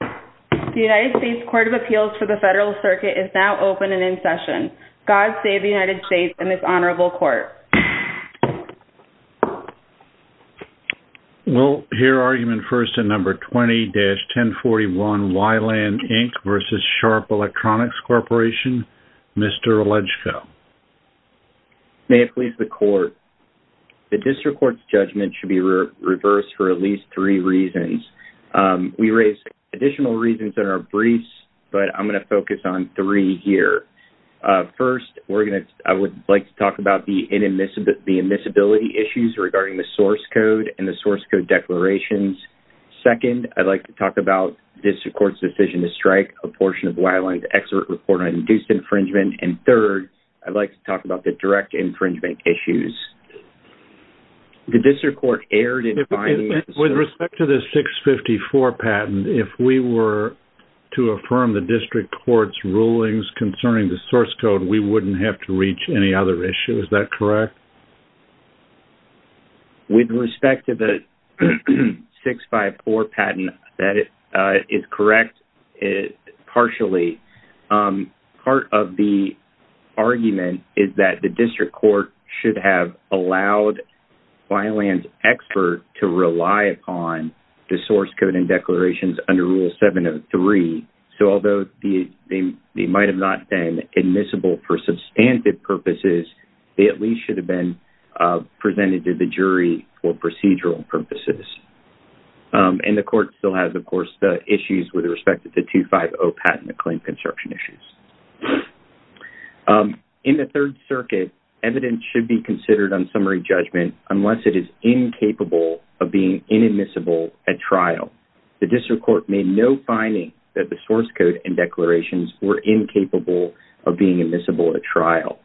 The United States Court of Appeals for the Federal Circuit is now open and in session. God save the United States and this honorable court. We'll hear argument first in number 20-1041, We-LAN Inc. v. Sharp Electronics Corporation. Mr. Olegchko. May it please the court. The district court's judgment should be reversed for at least three reasons. We raise additional reasons that are brief, but I'm going to focus on three here. First, I would like to talk about the admissibility issues regarding the source code and the source code declarations. Second, I'd like to talk about the district court's decision to strike a portion of We-LAN's expert report on induced infringement. And third, I'd like to talk about the direct infringement issues. The district court erred in finding... With respect to the 654 patent, if we were to affirm the district court's rulings concerning the source code, we wouldn't have to reach any other issues, is that correct? With respect to the 654 patent, that is correct partially. Part of the argument is that the district court should have allowed We-LAN's expert to rely upon the source code and declarations under Rule 703. So although they might have not been admissible for substantive purposes, they at least should have been presented to the jury for procedural purposes. And the court still has, of course, the issues with respect to the 250 patent claim construction issues. In the Third Circuit, evidence should be considered on summary judgment unless it is incapable of being inadmissible at trial. The district court made no finding that the source code and declarations were incapable of being admissible at trial,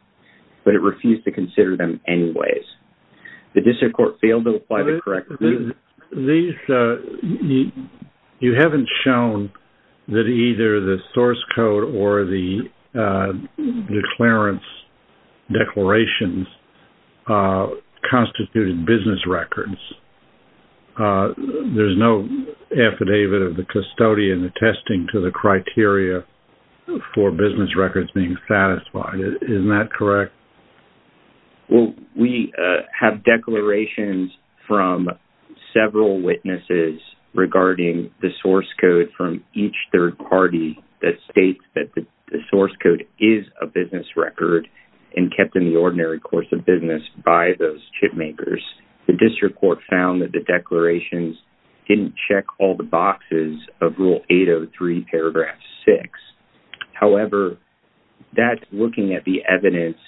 but it refused to consider them anyways. The district court failed to apply the correct... You haven't shown that either the source code or the declarations constituted business records. There's no affidavit of the custodian attesting to the criteria for business records being satisfied. Isn't that correct? Well, we have declarations from several witnesses regarding the source code from each third party that states that the source code is a business record and kept in the ordinary course of business by those chip makers. The district court found that the declarations didn't check all the boxes of Rule 803, paragraph 6. However, that's looking at the evidence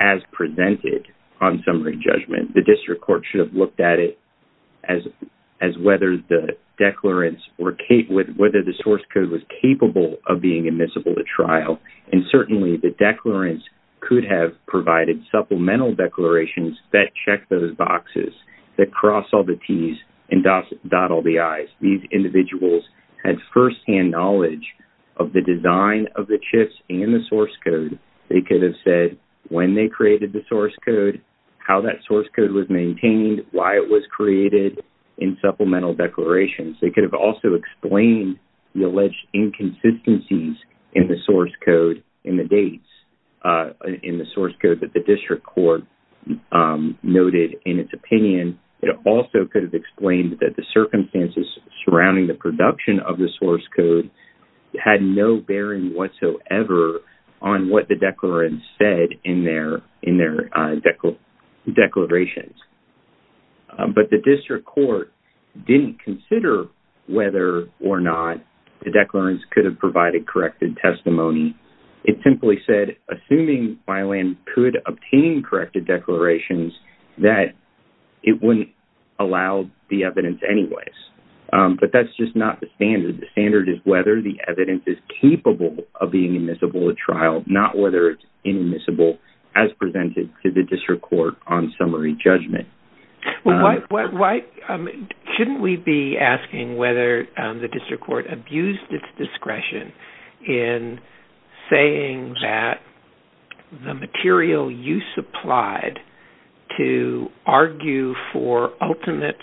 as presented on summary judgment. The district court should have looked at it as whether the source code was capable of being admissible at trial. And certainly, the declarants could have provided supplemental declarations that check those boxes, that cross all the T's and dot all the I's. These individuals had firsthand knowledge of the design of the chips and the source code. They could have said when they created the source code, how that source code was maintained, why it was created in supplemental declarations. They could have also explained the alleged inconsistencies in the source code, in the dates in the source code that the district court noted in its opinion. It also could have explained that the circumstances surrounding the production of the source code had no bearing whatsoever on what the declarants said in their declarations. But the district court didn't consider whether or not the declarants could have provided corrected testimony. It simply said, assuming Byland could obtain corrected declarations, that it wouldn't allow the evidence anyways. But that's just not the standard. The standard is whether the evidence is capable of being admissible at trial, not whether it's inadmissible as presented to the district court on summary judgment. Shouldn't we be asking whether the district court abused its discretion in saying that the material you supplied to argue for ultimate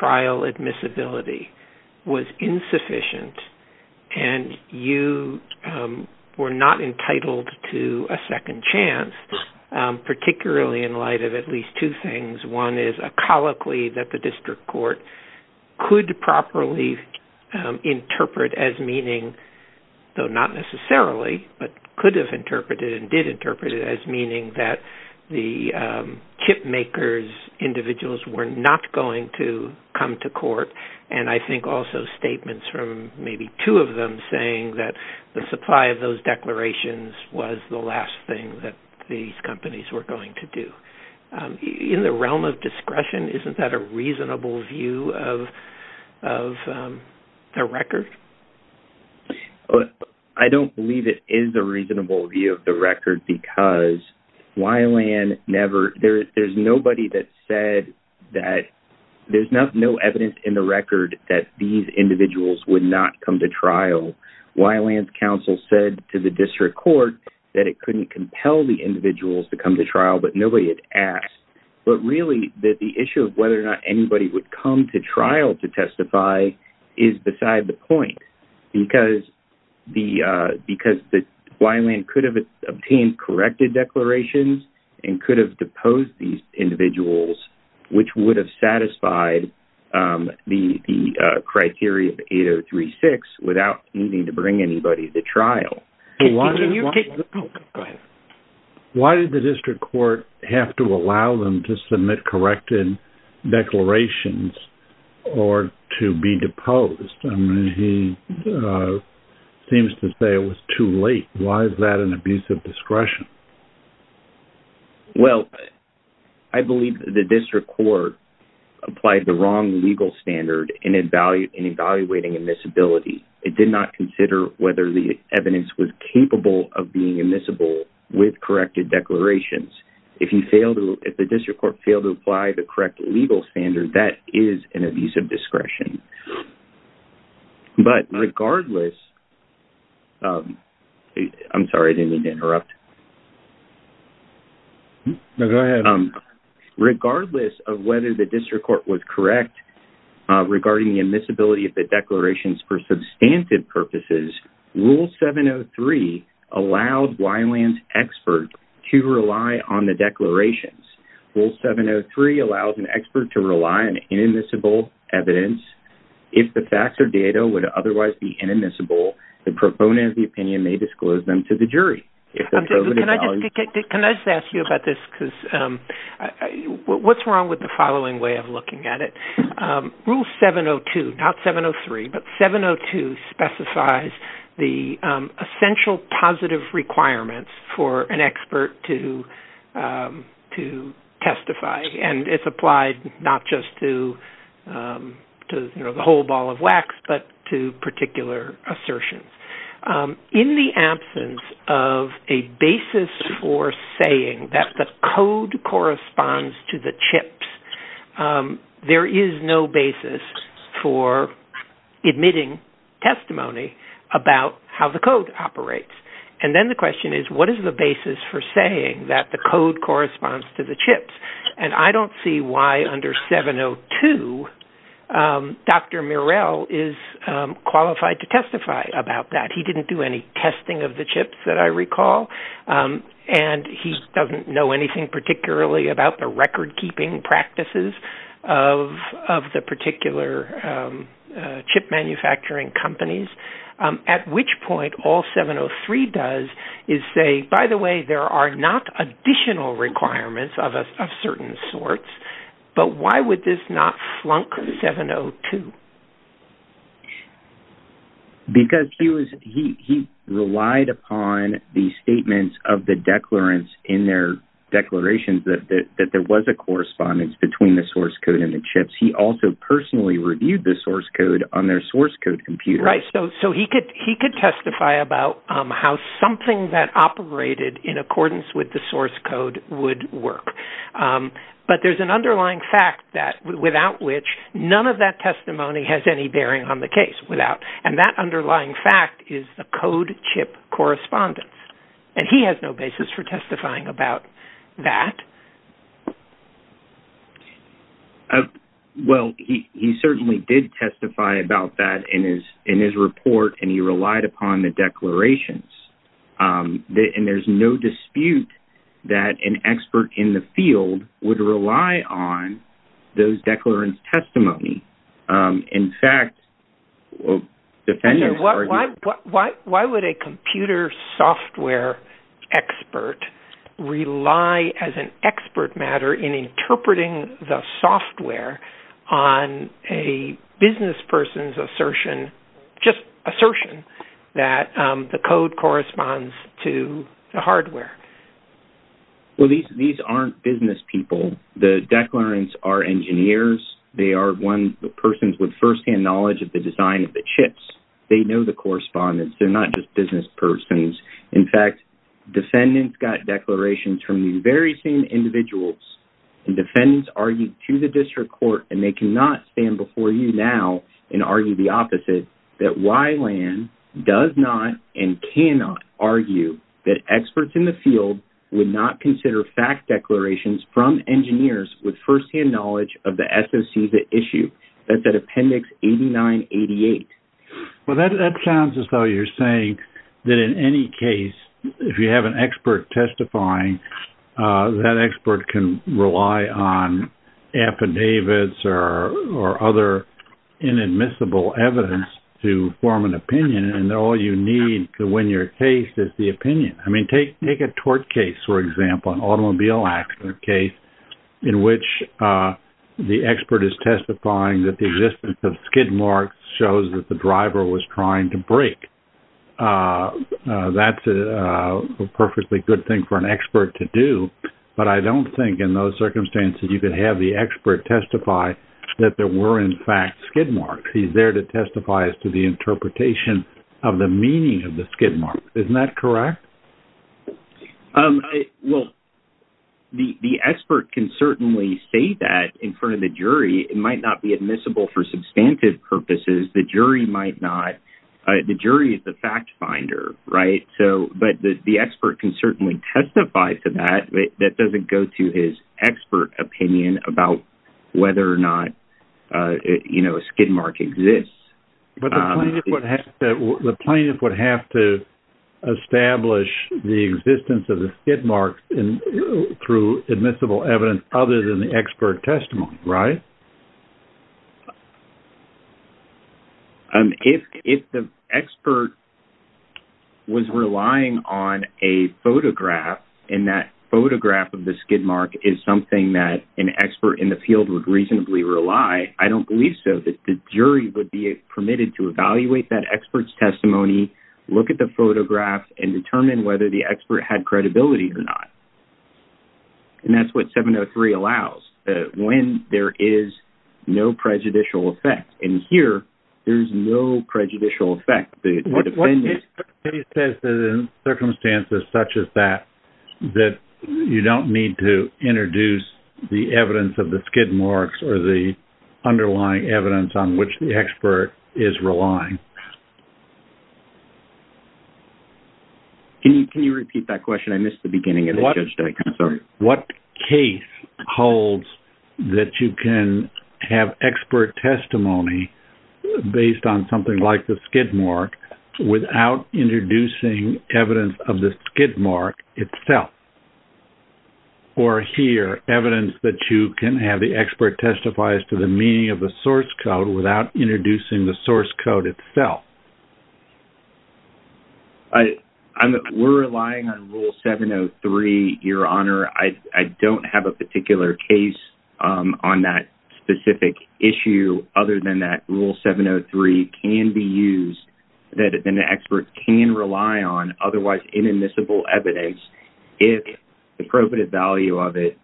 trial admissibility was insufficient and you were not entitled to a second chance, particularly in light of at least two things. One is a colloquy that the district court could properly interpret as meaning, though not necessarily, but could have interpreted and did interpret it as meaning that the chip makers' individuals were not going to come to court. And I think also statements from maybe two of them saying that the supply of those declarations was the last thing that these companies were going to do. In the realm of discretion, isn't that a reasonable view of the record? I don't believe it is a reasonable view of the record because Byland never – there's nobody that said that there's no evidence in the record that these individuals would not come to trial. Byland's counsel said to the district court that it couldn't compel the individuals to come to trial, but nobody had asked. But really, the issue of whether or not anybody would come to trial to testify is beside the point because Byland could have obtained corrected declarations and could have deposed these individuals, which would have satisfied the criteria of 8036 without needing to bring anybody to trial. Why did the district court have to allow them to submit corrected declarations or to be deposed? I mean, he seems to say it was too late. Why is that an abuse of discretion? Well, I believe that the district court applied the wrong legal standard in evaluating admissibility. It did not consider whether the evidence was capable of being admissible with corrected declarations. If the district court failed to apply the correct legal standard, that is an abuse of discretion. But regardless... I'm sorry, I didn't mean to interrupt. No, go ahead. Regardless of whether the district court was correct regarding the admissibility of the declarations for substantive purposes, Rule 703 allowed Byland's expert to rely on the declarations. Rule 703 allows an expert to rely on inadmissible evidence. If the facts or data would otherwise be inadmissible, the proponent of the opinion may disclose them to the jury. Can I just ask you about this? What's wrong with the following way of looking at it? Rule 702, not 703, but 702 specifies the essential positive requirements for an expert to testify. And it's applied not just to the whole ball of wax, but to particular assertions. In the absence of a basis for saying that the code corresponds to the chips, there is no basis for admitting testimony about how the code operates. And then the question is, what is the basis for saying that the code corresponds to the chips? And I don't see why under 702, Dr. Murrell is qualified to testify about that. He didn't do any testing of the chips that I recall. And he doesn't know anything particularly about the record-keeping practices of the particular chip manufacturing companies. At which point, all 703 does is say, by the way, there are not additional requirements of certain sorts, but why would this not flunk 702? Because he relied upon the statements of the declarants in their declarations that there was a correspondence between the source code and the chips. He also personally reviewed the source code on their source code computer. Right, so he could testify about how something that operated in accordance with the source code would work. But there's an underlying fact that, without which, none of that testimony has any bearing on the case. And that underlying fact is the code chip correspondence. And he has no basis for testifying about that. Well, he certainly did testify about that in his report, and he relied upon the declarations. And there's no dispute that an expert in the field would rely on those declarants' testimony. In fact, defenders argue... Why would a computer software expert rely as an expert matter in interpreting the software on a business person's assertion, just assertion, that the code corresponds to the hardware? Well, these aren't business people. The declarants are engineers. They are persons with first-hand knowledge of the design of the chips. They know the correspondence. They're not just business persons. In fact, defendants got declarations from these very same individuals. And defendants argued to the district court, and they cannot stand before you now and argue the opposite, that Wyland does not and cannot argue that experts in the field would not consider fact declarations from engineers with first-hand knowledge of the SOC's issue. That's at Appendix 8988. Well, that sounds as though you're saying that in any case, if you have an expert testifying, that expert can rely on affidavits or other inadmissible evidence to form an opinion, and all you need to win your case is the opinion. I mean, take a tort case, for example, an automobile accident case, in which the expert is testifying that the existence of skid marks shows that the driver was trying to brake. That's a perfectly good thing for an expert to do, but I don't think in those circumstances you could have the expert testify that there were, in fact, skid marks. He's there to testify as to the interpretation of the meaning of the skid marks. Isn't that correct? It might not be admissible for substantive purposes. The jury might not. The jury is the fact finder, right? But the expert can certainly testify to that. That doesn't go to his expert opinion about whether or not a skid mark exists. But the plaintiff would have to establish the existence of the skid marks through admissible evidence other than the expert testimony, right? If the expert was relying on a photograph, and that photograph of the skid mark is something that an expert in the field would reasonably rely, I don't believe so. The jury would be permitted to evaluate that expert's testimony, look at the photograph, and determine whether the expert had credibility or not. And that's what 703 allows, when there is no prejudicial effect. And here, there's no prejudicial effect. What if he says that in circumstances such as that, that you don't need to introduce the evidence of the skid marks or the underlying evidence on which the expert is relying? Can you repeat that question? I missed the beginning of it. What case holds that you can have expert testimony based on something like the skid mark without introducing evidence of the skid mark itself? Or here, evidence that you can have the expert testify as to the meaning of the source code without introducing the source code itself? We're relying on Rule 703, Your Honor. I don't have a particular case on that specific issue other than that Rule 703 can be used that an expert can rely on, otherwise inadmissible evidence, if the appropriate value of it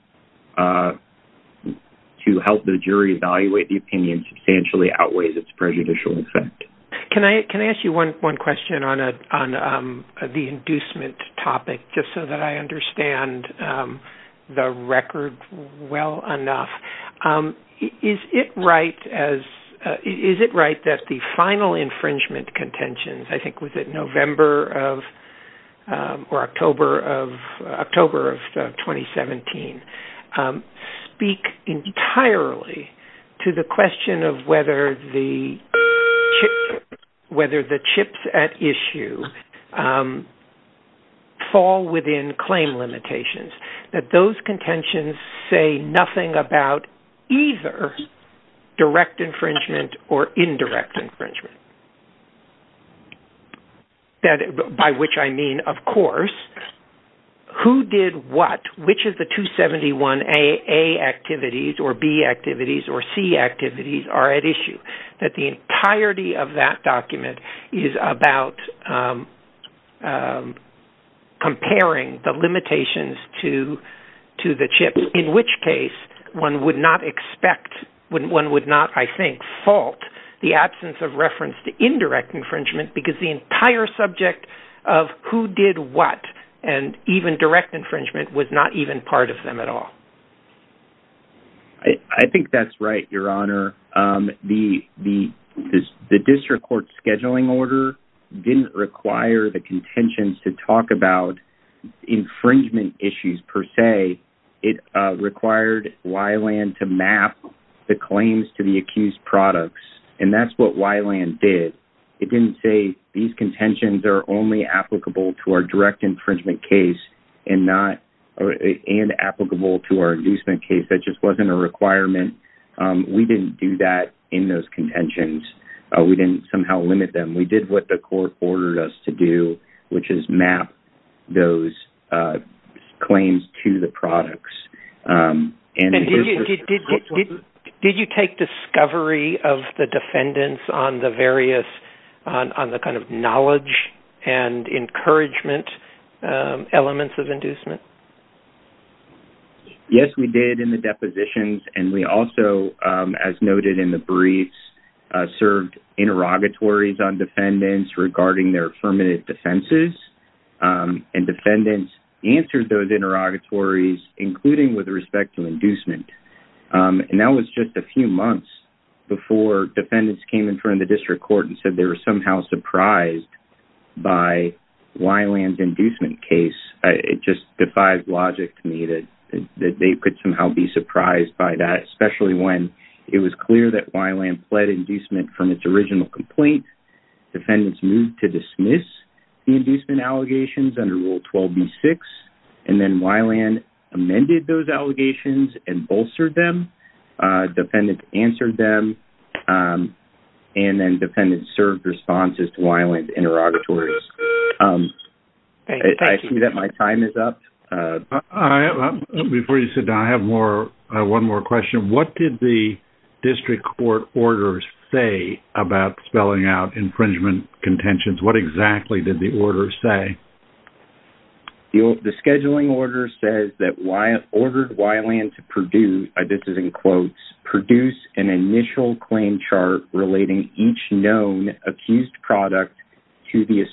to help the jury evaluate the opinion substantially outweighs its prejudicial effect. Can I ask you one question on the inducement topic, just so that I understand the record well enough? Is it right that the final infringement contentions, I think was it October of 2017, speak entirely to the question of whether the chips at issue fall within claim limitations, that those contentions say nothing about either direct infringement or indirect infringement? By which I mean, of course, who did what? Which of the 271A activities or B activities or C activities are at issue? That the entirety of that document is about comparing the limitations to the one would not expect, one would not, I think, fault the absence of reference to indirect infringement because the entire subject of who did what and even direct infringement was not even part of them at all. I think that's right, Your Honor. The district court scheduling order didn't require the contentions to talk about infringement issues per se. It required Wyland to map the claims to the accused products, and that's what Wyland did. It didn't say these contentions are only applicable to our direct infringement case and applicable to our inducement case. That just wasn't a requirement. We didn't do that in those contentions. We didn't somehow limit them. We did what the court ordered us to do, which is map those claims to the products. Did you take discovery of the defendants on the various, on the kind of knowledge and encouragement elements of inducement? Yes, we did in the depositions, and we also, as noted in the briefs, observed interrogatories on defendants regarding their affirmative defenses, and defendants answered those interrogatories, including with respect to inducement. And that was just a few months before defendants came in front of the district court and said they were somehow surprised by Wyland's inducement case. It just defies logic to me that they could somehow be surprised by that, especially when it was clear that Wyland pled inducement from its original complaint. Defendants moved to dismiss the inducement allegations under Rule 12B6, and then Wyland amended those allegations and bolstered them. Defendants answered them, and then defendants served responses to Wyland's interrogatories. I see that my time is up. Before you sit down, I have one more question. What did the district court orders say about spelling out infringement contentions? What exactly did the order say? The scheduling order says that ordered Wyland to produce, this is in quotes, produce an initial claim chart relating each known accused product to the defendant.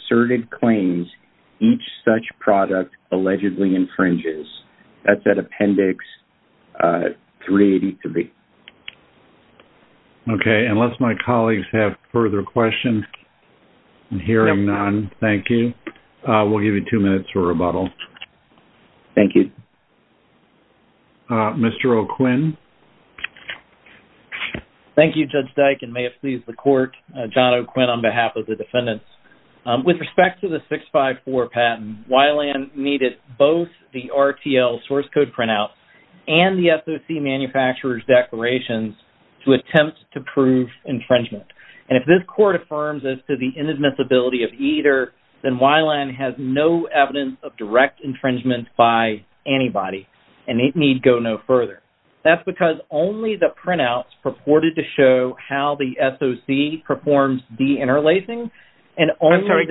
That's at appendix 383. Okay. Unless my colleagues have further questions, I'm hearing none. Thank you. We'll give you two minutes for rebuttal. Thank you. Mr. O'Quinn. Thank you, Judge Dyke, and may it please the court. John O'Quinn on behalf of the defendants. With respect to the 654 patent, Wyland needed both the RTL source code printouts and the SOC manufacturer's declarations to attempt to prove infringement. And if this court affirms as to the inadmissibility of either, then Wyland has no evidence of direct infringement by anybody, and it need go no further. That's because only the printouts purported to show how the SOC performs deinterlacing and only the- I'm sorry,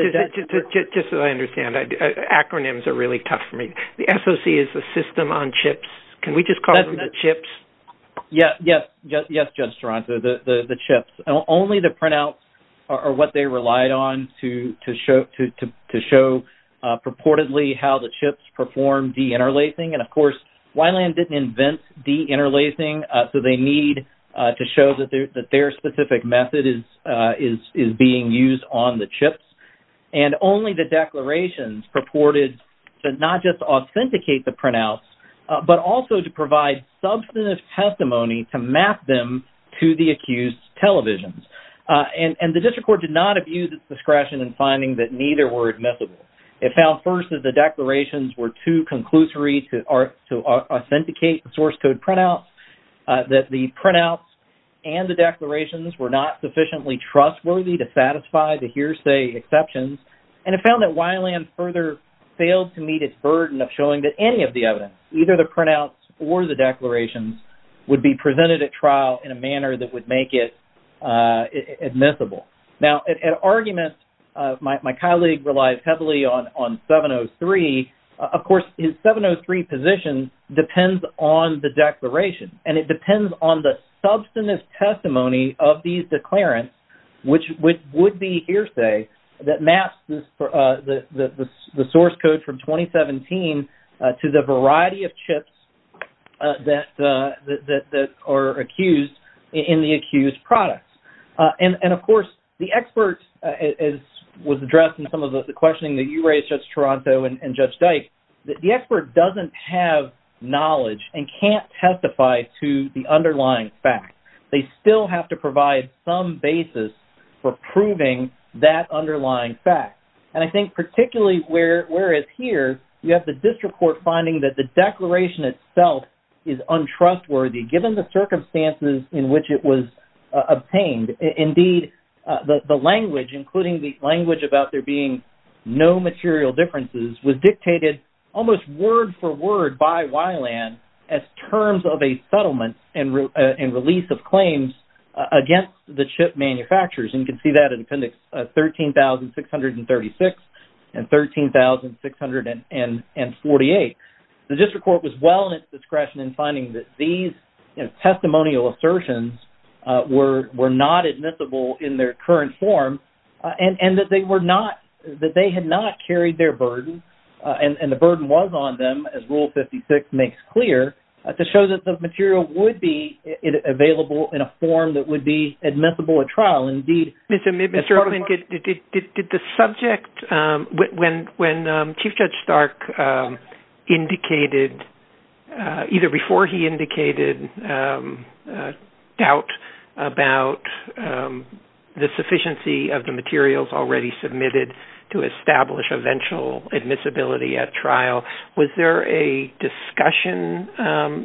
just so I understand. Acronyms are really tough for me. The SOC is the System on Chips. Can we just call them the chips? Yes, Judge Toronto, the chips. Only the printouts are what they relied on to show purportedly how the chips perform deinterlacing. And, of course, Wyland didn't invent deinterlacing, so they need to show that their specific method is being used on the chips. And only the declarations purported to not just authenticate the printouts, but also to provide substantive testimony to map them to the accused televisions. And the district court did not abuse its discretion in finding that neither were admissible. It found, first, that the declarations were too conclusory to authenticate the source code printouts, that the printouts and the declarations were not sufficiently trustworthy to satisfy the hearsay exceptions. And it found that Wyland further failed to meet its burden of showing that any of the evidence, either the printouts or the declarations, would be presented at trial in a manner that would make it admissible. Now, at argument, my colleague relies heavily on 703. Of course, his 703 position depends on the declaration, and it depends on the substantive testimony of these declarants, which would be hearsay that maps the source code from 2017 to the variety of chips that are accused in the accused products. And, of course, the experts, as was addressed in some of the questioning that you raised, Judge Toronto and Judge Dyke, the expert doesn't have knowledge and can't testify to the underlying fact. They still have to provide some basis for proving that underlying fact. And I think particularly where it's here, you have the district court finding that the declaration itself is untrustworthy given the circumstances in which it was obtained. Indeed, the language, including the language about there being no material differences, was dictated almost word-for-word by Wyland as terms of a settlement and release of claims against the chip manufacturers. And you can see that in Appendix 13,636 and 13,648. The district court was well in its discretion in finding that these testimonial assertions were not admissible in their current form and that they were not, that they had not carried their burden, and the burden was on them, as Rule 56 makes clear, to show that the material would be available in a form Mr. Erwin, did the subject, when Chief Judge Stark indicated, either before he indicated doubt about the sufficiency of the materials already submitted to establish eventual admissibility at trial, was there a discussion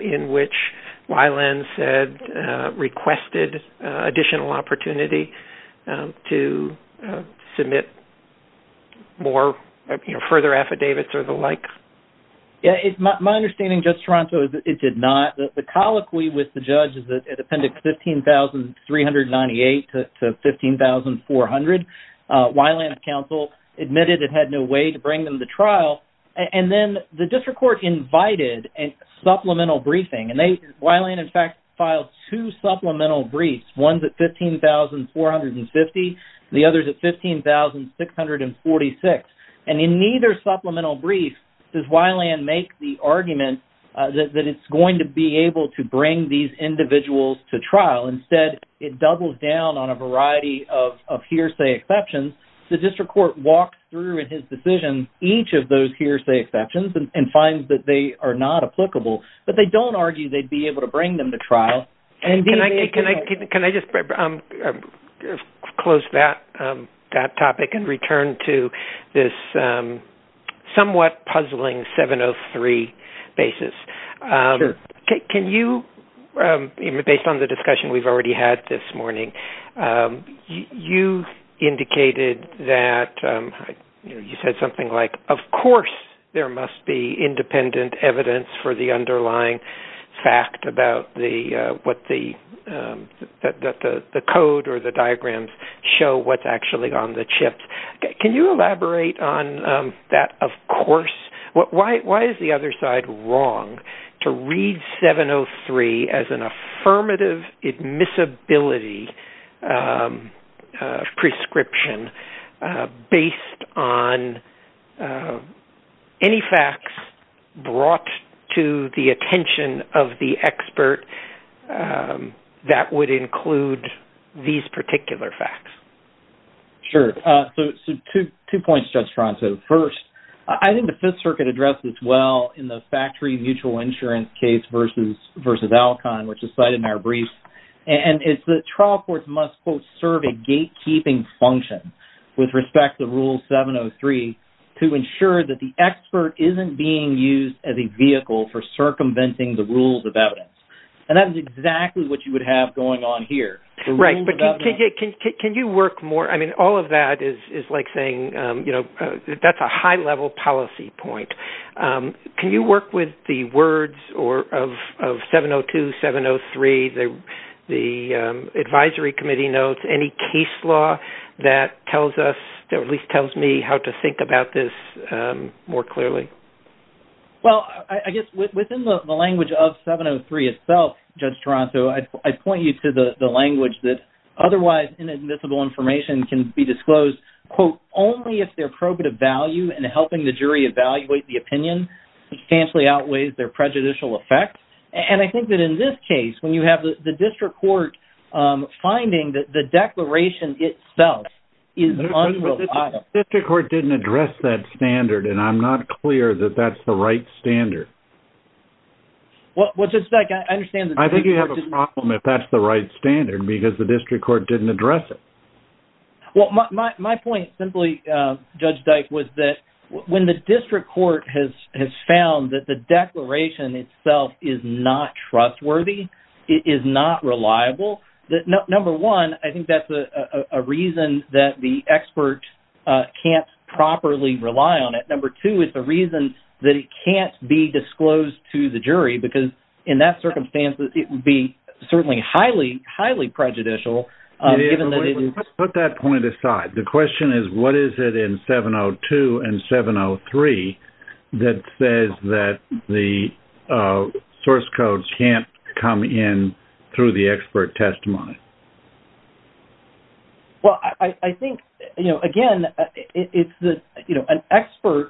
in which Wyland said, requested additional opportunity to submit more, you know, further affidavits or the like? My understanding, Judge Toronto, is that it did not. The colloquy with the judge is that in Appendix 15,398 to 15,400, Wyland's counsel admitted it had no way to bring them to trial. And then the district court invited a supplemental briefing, and Wyland, in fact, filed two supplemental briefs. One's at 15,450, and the other's at 15,646. And in neither supplemental brief does Wyland make the argument that it's going to be able to bring these individuals to trial. Instead, it doubles down on a variety of hearsay exceptions. The district court walks through in his decision each of those hearsay exceptions and finds that they are not applicable. But they don't argue they'd be able to bring them to trial. Can I just close that topic and return to this somewhat puzzling 703 basis? Sure. Can you, based on the discussion we've already had this morning, you indicated that you said something like, of course there must be independent evidence for the underlying fact about what the code or the diagrams show what's actually on the chips. Can you elaborate on that of course? Why is the other side wrong to read 703 as an affirmative admissibility prescription based on any facts brought to the attention of the expert that would include these particular facts? Sure. So two points, Judge Franco. First, I think the Fifth Circuit addressed this well in the factory mutual insurance case versus Alcon, which is cited in our brief. And it's that trial courts must, quote, serve a gatekeeping function with respect to Rule 703 to ensure that the expert isn't being used as a vehicle for circumventing the rules of evidence. And that is exactly what you would have going on here. Right. But can you work more? I mean, all of that is like saying that's a high-level policy point. Can you work with the words of 702, 703, the advisory committee notes, any case law that tells us, that at least tells me how to think about this more clearly? Well, I guess within the language of 703 itself, Judge Toronto, I point you to the language that otherwise inadmissible information can be disclosed, quote, only if their probative value in helping the jury evaluate the opinion substantially outweighs their prejudicial effect. And I think that in this case, when you have the district court finding that the declaration itself is unreliable. But the district court didn't address that standard, and I'm not clear that that's the right standard. Well, just like I understand the district court didn't address it. What's the problem if that's the right standard, because the district court didn't address it? Well, my point simply, Judge Dyke, was that when the district court has found that the declaration itself is not trustworthy, it is not reliable, number one, I think that's a reason that the expert can't properly rely on it. Number two is the reason that it can't be disclosed to the jury, because in that circumstance it would be certainly highly, highly prejudicial given that it is. Put that point aside. The question is what is it in 702 and 703 that says that the source codes can't come in through the expert testimony? Well, I think, you know, again, it's the, you know, an expert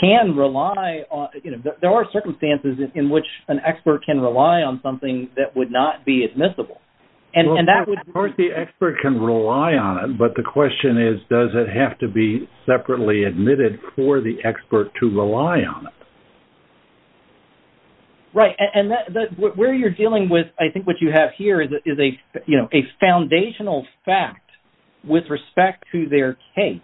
can rely on, you know, there are circumstances in which an expert can rely on something that would not be admissible. Of course the expert can rely on it, but the question is does it have to be separately admitted for the expert to rely on it? Right. And where you're dealing with, I think what you have here is a, you know, a foundational fact with respect to their case,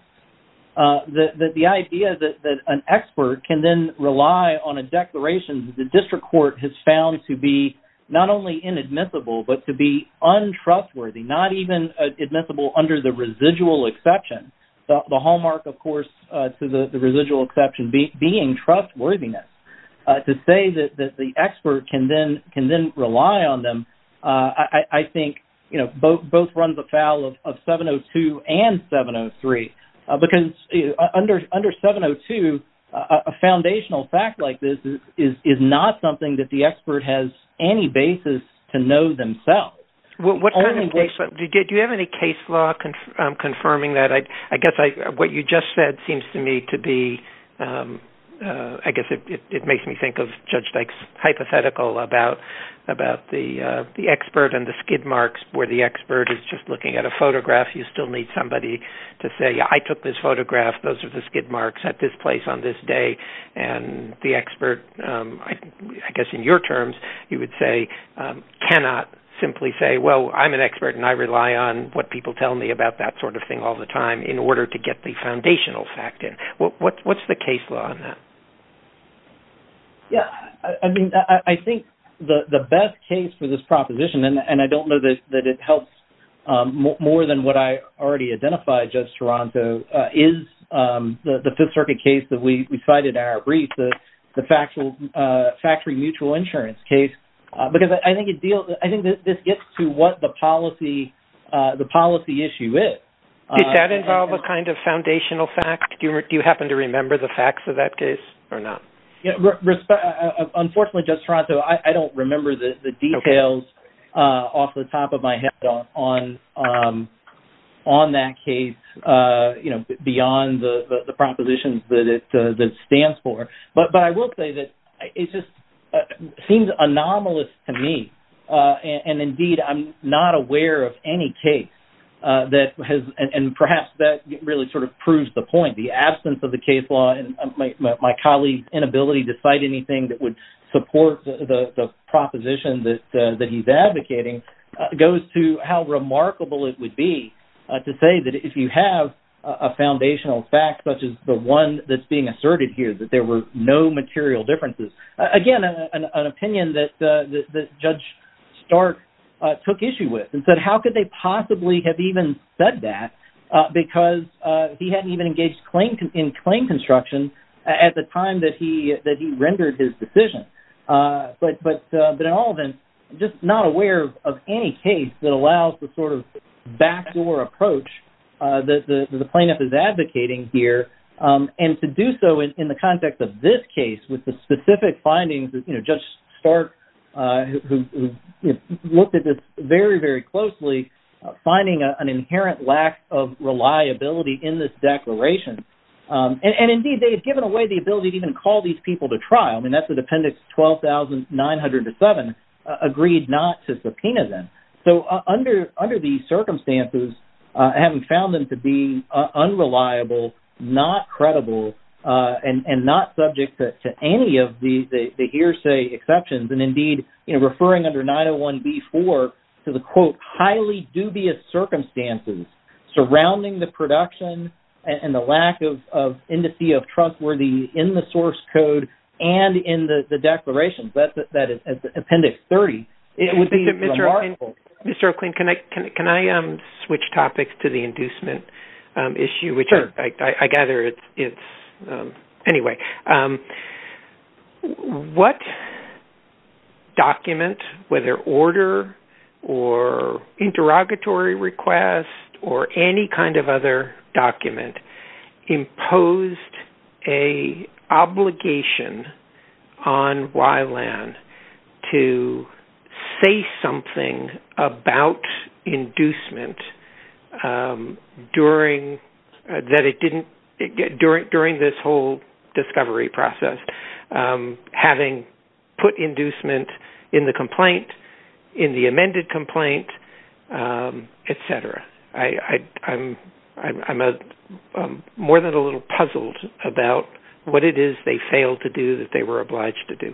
that the idea that an expert can then rely on a declaration that the district court has found to be not only inadmissible, but to be untrustworthy, not even admissible under the residual exception. The hallmark, of course, to the residual exception being trustworthiness. To say that the expert can then rely on them, I think, you know, both runs afoul of 702 and 703. Because under 702, a foundational fact like this is not something that the expert has any basis to know themselves. Did you have any case law confirming that? I guess what you just said seems to me to be, I guess, it makes me think of Judge Dyke's hypothetical about the expert and the expert is just looking at a photograph. You still need somebody to say, I took this photograph. Those are the skid marks at this place on this day and the expert, I guess in your terms, you would say, cannot simply say, well, I'm an expert and I rely on what people tell me about that sort of thing all the time in order to get the foundational fact in. What's the case law on that? Yeah. I mean, I think the best case for this proposition, and I don't know that it helps more than what I already identified, Judge Toronto, is the Fifth Circuit case that we cited in our brief, the factory mutual insurance case. Because I think this gets to what the policy issue is. Did that involve a kind of foundational fact? Do you happen to remember the facts of that case or not? Unfortunately, Judge Toronto, I don't remember the details off the top of my head on that case, beyond the propositions that it stands for. But I will say that it just seems anomalous to me. And indeed, I'm not aware of any case that has, and perhaps that really sort of proves the point. The absence of the case law and my colleague's inability to cite anything that would support the proposition that he's advocating goes to how remarkable it would be to say that if you have a foundational fact, such as the one that's being asserted here, that there were no material differences. Again, an opinion that Judge Stark took issue with and said, how could they possibly have even said that? Because he hadn't even engaged in claim construction at the time that he rendered his decision. But in all of it, I'm just not aware of any case that allows the sort of backdoor approach that the plaintiff is advocating here, and to do so in the context of this case with the specific findings that Judge Stark, who looked at this very, very closely, finding an inherent lack of reliability in this declaration. And indeed, they had given away the ability to even call these people to trial. I mean, that's the appendix 12,907, agreed not to subpoena them. So under these circumstances, having found them to be unreliable, not credible, and not subject to any of the hearsay exceptions, and indeed referring under 901B4 to the, quote, including the production and the lack of indice of trustworthiness in the source code and in the declaration, that is appendix 30, it would be remarkable. Mr. O'Kleene, can I switch topics to the inducement issue? Sure. Which I gather it's, anyway, what document, whether order or interrogatory request or any kind of other document, imposed a obligation on Wyland to say something about inducement during this whole discovery process, having put inducement in the complaint, in the amended complaint, et cetera. I'm more than a little puzzled about what it is they failed to do that they were obliged to do.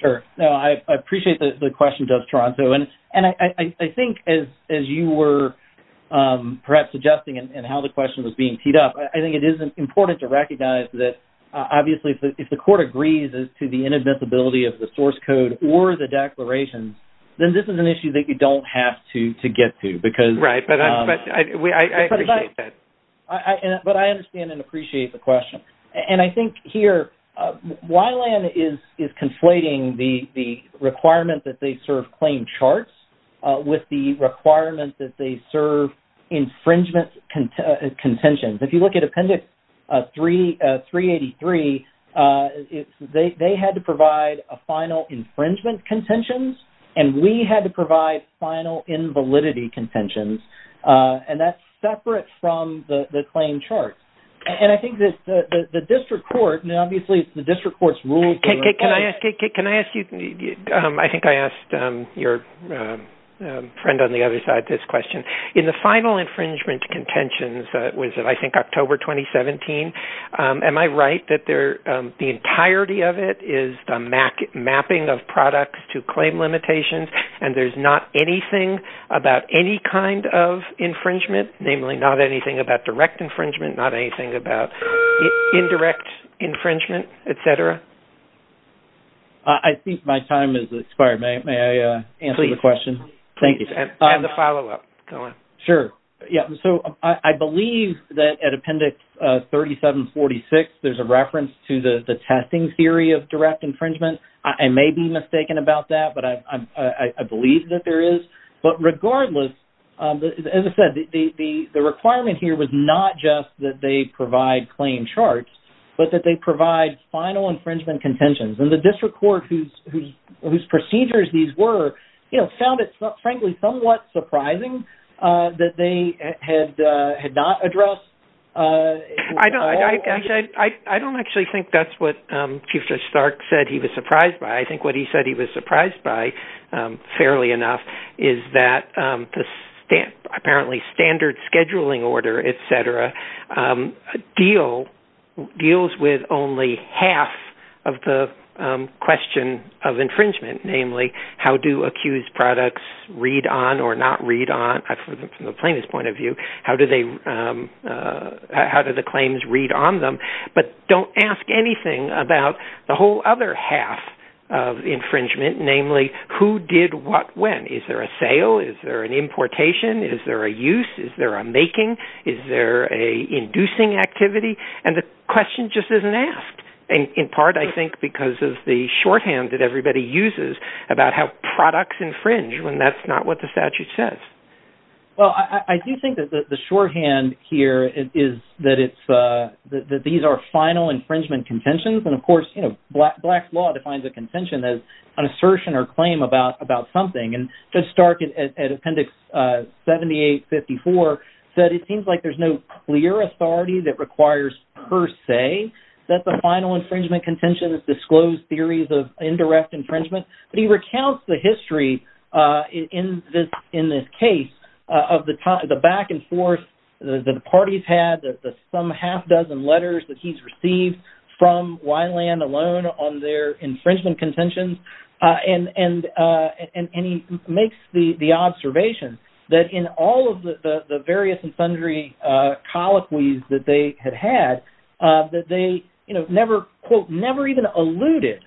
Sure. No, I appreciate the question, Judge Toronto. And I think as you were perhaps suggesting and how the question was being teed up, I think it is important to recognize that, obviously, if the court agrees as to the inadmissibility of the source code or the declarations, then this is an issue that you don't have to get to. Right, but I appreciate that. But I understand and appreciate the question. And I think here Wyland is conflating the requirement that they serve claim charts with the requirement that they serve infringement contentions. If you look at Appendix 383, they had to provide a final infringement contentions, and we had to provide final invalidity contentions. And that's separate from the claim charts. And I think that the district court, and obviously the district court's rules to request this. Can I ask you, I think I asked your friend on the other side this question. In the final infringement contentions, was it I think October 2017, am I right that the entirety of it is the mapping of products to claim limitations and there's not anything about any kind of infringement, namely not anything about direct infringement, not anything about indirect infringement, et cetera? I think my time has expired. May I answer the question? Thank you. And the follow-up. Go ahead. Sure. So I believe that at Appendix 3746 there's a reference to the testing theory of direct infringement. I may be mistaken about that, but I believe that there is. But regardless, as I said, the requirement here was not just that they provide claim charts, but that they provide final infringement contentions. And the district court whose procedures these were, you know, found it frankly somewhat surprising that they had not addressed. I don't actually think that's what Chief Judge Stark said he was surprised by. I think what he said he was surprised by, fairly enough, deals with only half of the question of infringement, namely how do accused products read on or not read on from the plaintiff's point of view? How do the claims read on them? But don't ask anything about the whole other half of infringement, namely who did what when. Is there a sale? Is there an importation? Is there a use? Is there a making? Is there a inducing activity? And the question just isn't asked. In part, I think, because of the shorthand that everybody uses about how products infringe when that's not what the statute says. Well, I do think that the shorthand here is that these are final infringement contentions. And of course, you know, Black's law defines a contention as an assertion or claim about something. And Judge Stark at Appendix 7854 said, it seems like there's no clear authority that requires per se that the final infringement contention is disclosed theories of indirect infringement. But he recounts the history in this case of the back and forth that the party's had, the some half dozen letters that he's received from Weiland alone on their infringement contentions. And he makes the observation that in all of the various and sundry colloquies that they had had, that they, you know, never, quote, never even alluded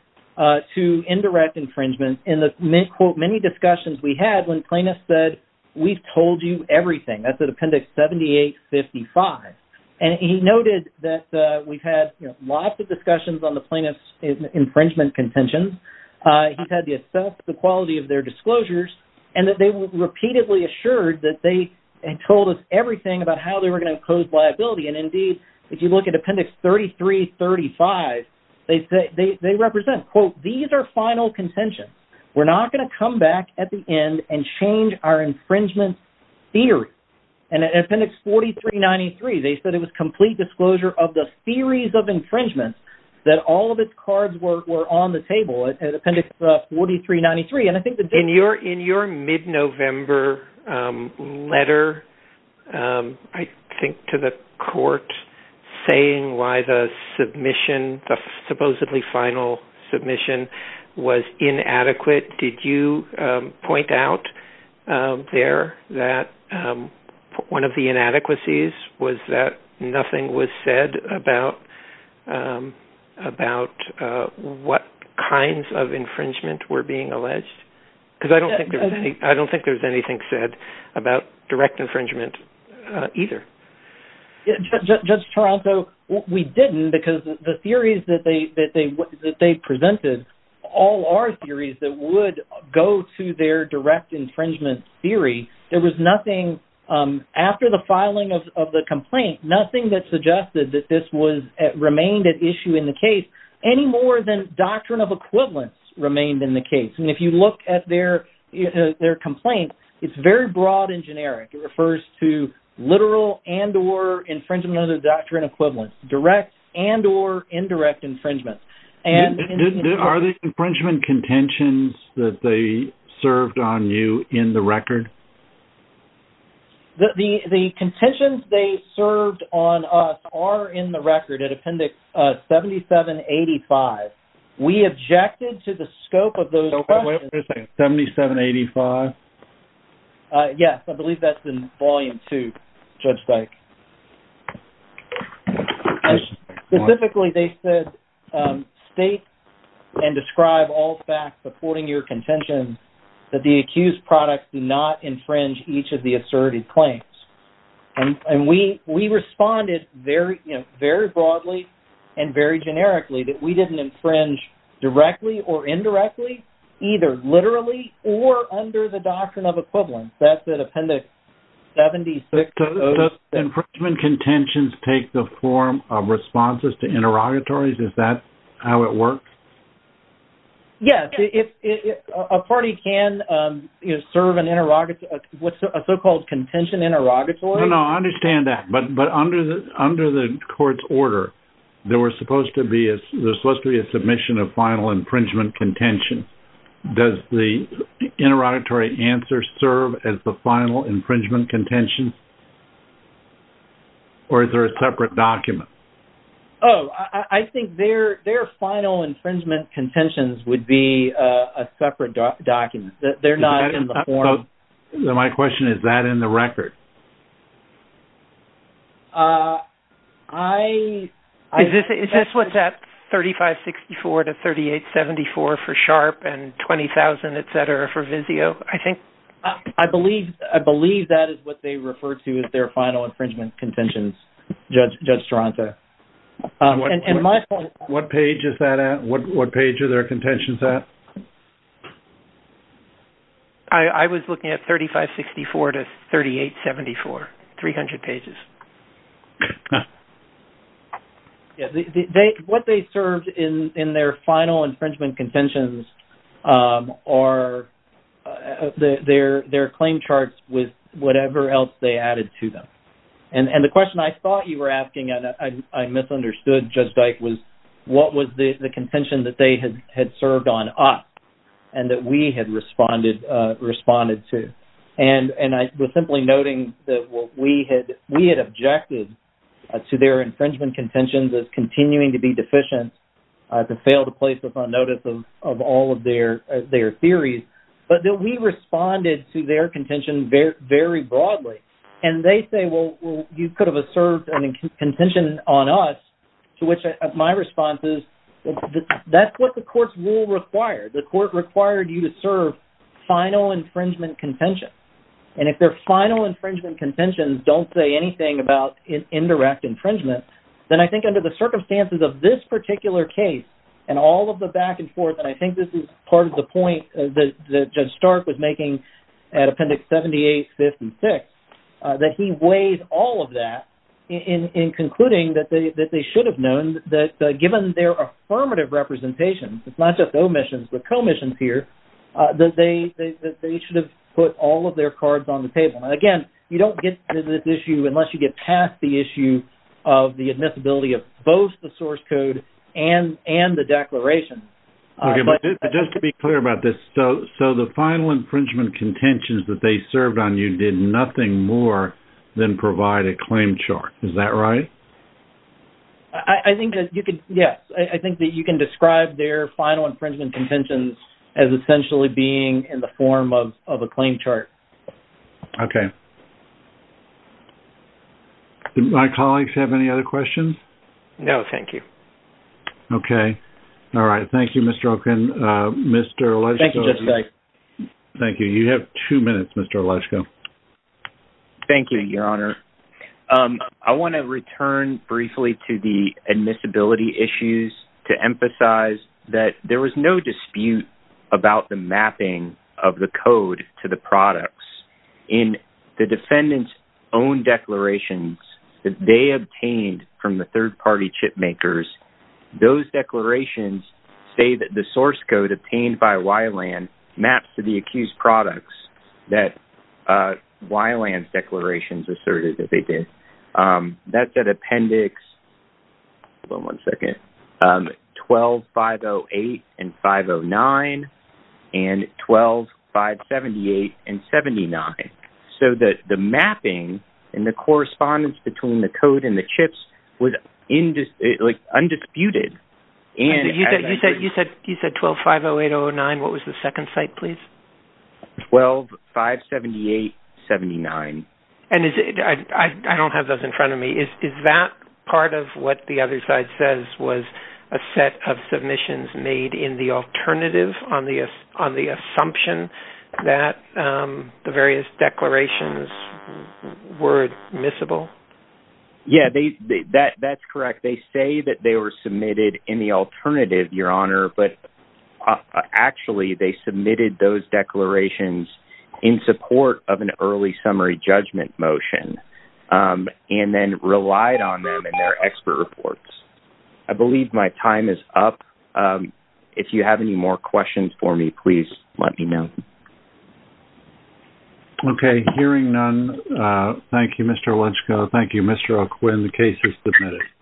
to indirect infringement in the quote, many discussions we had when plaintiffs said, we've told you everything. That's at Appendix 7855. And he noted that we've had lots of discussions on the plaintiff's infringement contentions. He's had to assess the quality of their disclosures and that they were repeatedly assured that they had told us everything about how they were going to impose liability. And indeed, if you look at Appendix 3335, they say, they, they represent quote, these are final contentions. We're not going to come back at the end and change our infringement theory. And at Appendix 4393, they said it was complete disclosure of the theories of infringements that all of its cards were on the table. At Appendix 4393. And I think that- In your mid-November letter, I think to the court saying why the submission, the supposedly final submission was inadequate. Did you point out there that one of the inadequacies was that nothing was said about what kinds of infringement were being alleged? Because I don't think there was anything said about direct infringement either. Judge Toronto, we didn't because the theories that they presented, all our theories that would go to their direct infringement theory, there was nothing after the filing of the complaint, nothing that suggested that this was, remained at issue in the case any more than doctrine of equivalence remained in the case. And if you look at their, their complaint, it's very broad and generic. It refers to literal and or infringement of the doctrine of equivalence, direct and or indirect infringement. And- Are the infringement contentions that they served on you in the record? The contentions they served on us are in the record at appendix 7785. We objected to the scope of those- Wait a second, 7785? Yes. I believe that's in volume two, Judge Dyke. Specifically, they said state and describe all facts supporting your contention that the defendant did not infringe each of the asserted claims. And we responded very, you know, very broadly and very generically that we didn't infringe directly or indirectly, either literally or under the doctrine of equivalence. That's at appendix 76. Does infringement contentions take the form of responses to interrogatories? Is that how it works? Yes. A party can serve a so-called contention interrogatory? No, no, I understand that. But under the court's order, there was supposed to be a submission of final infringement contention. Does the interrogatory answer serve as the final infringement contention? Or is there a separate document? Oh, I think their final infringement contentions would be a separate document. They're not in the form- My question is, is that in the record? Is this what's at 3564 to 3874 for SHARP and 20,000, et cetera, for VIZIO? I believe that is what they refer to as their final infringement contentions, Judge Taranto. What page is that at? What page are their contentions at? I was looking at 3564 to 3874, 300 pages. What they served in their final infringement contentions are their claim charts with whatever else they added to them. And the question I thought you were asking, and I misunderstood Judge Dyke, was what was the contention that they had served on us and that we had responded to? And I was simply noting that we had objected to their infringement contentions as continuing to be deficient, to fail to place us on notice of all of their theories, but that we responded to their contention very broadly. And they say, well, you could have served a contention on us, to which my response is, that's what the court's rule required. The court required you to serve final infringement contentions. And if their final infringement contentions don't say anything about indirect infringement, then I think under the circumstances of this particular case and all of the back and forth, and I think this is part of the point that Judge Stark was making at Appendix 78, 56, that he weighs all of that in concluding that they should have known that given their affirmative representation, it's not just omissions, but commissions here, that they should have put all of their cards on the table. And again, you don't get to this issue unless you get past the issue of the admissibility of both the source code and the declaration. Okay, but just to be clear about this, so the final infringement contentions that they served on you did nothing more than provide a claim chart. Is that right? I think that you could, yes. I think that you can describe their final infringement contentions as essentially being in the form of a claim chart. Okay. Do my colleagues have any other questions? No, thank you. Okay. All right. Thank you, Mr. Okin. Mr. Oleszko. Thank you, Judge Stark. Thank you. You have two minutes, Mr. Oleszko. Thank you, Your Honor. I want to return briefly to the admissibility issues to emphasize that there was no dispute about the mapping of the code to the products. In the defendant's own declarations that they obtained from the third-party chip makers, those declarations say that the source code obtained by Wyland maps to the accused products that Wyland's declarations asserted that they did. That's at Appendix 12-508 and 509 and 12-578 and 79. Okay. So the mapping and the correspondence between the code and the chips was undisputed. You said 12-508-009. What was the second site, please? 12-578-79. I don't have those in front of me. Is that part of what the other side says was a set of submissions made on the assumption that the various declarations were admissible? Yeah, that's correct. They say that they were submitted in the alternative, Your Honor, but actually they submitted those declarations in support of an early summary judgment motion and then relied on them in their expert reports. I believe my time is up. If you have any more questions for me, please let me know. Okay. Hearing none, thank you, Mr. Oluchko. Thank you, Mr. O'Quinn. The case is submitted.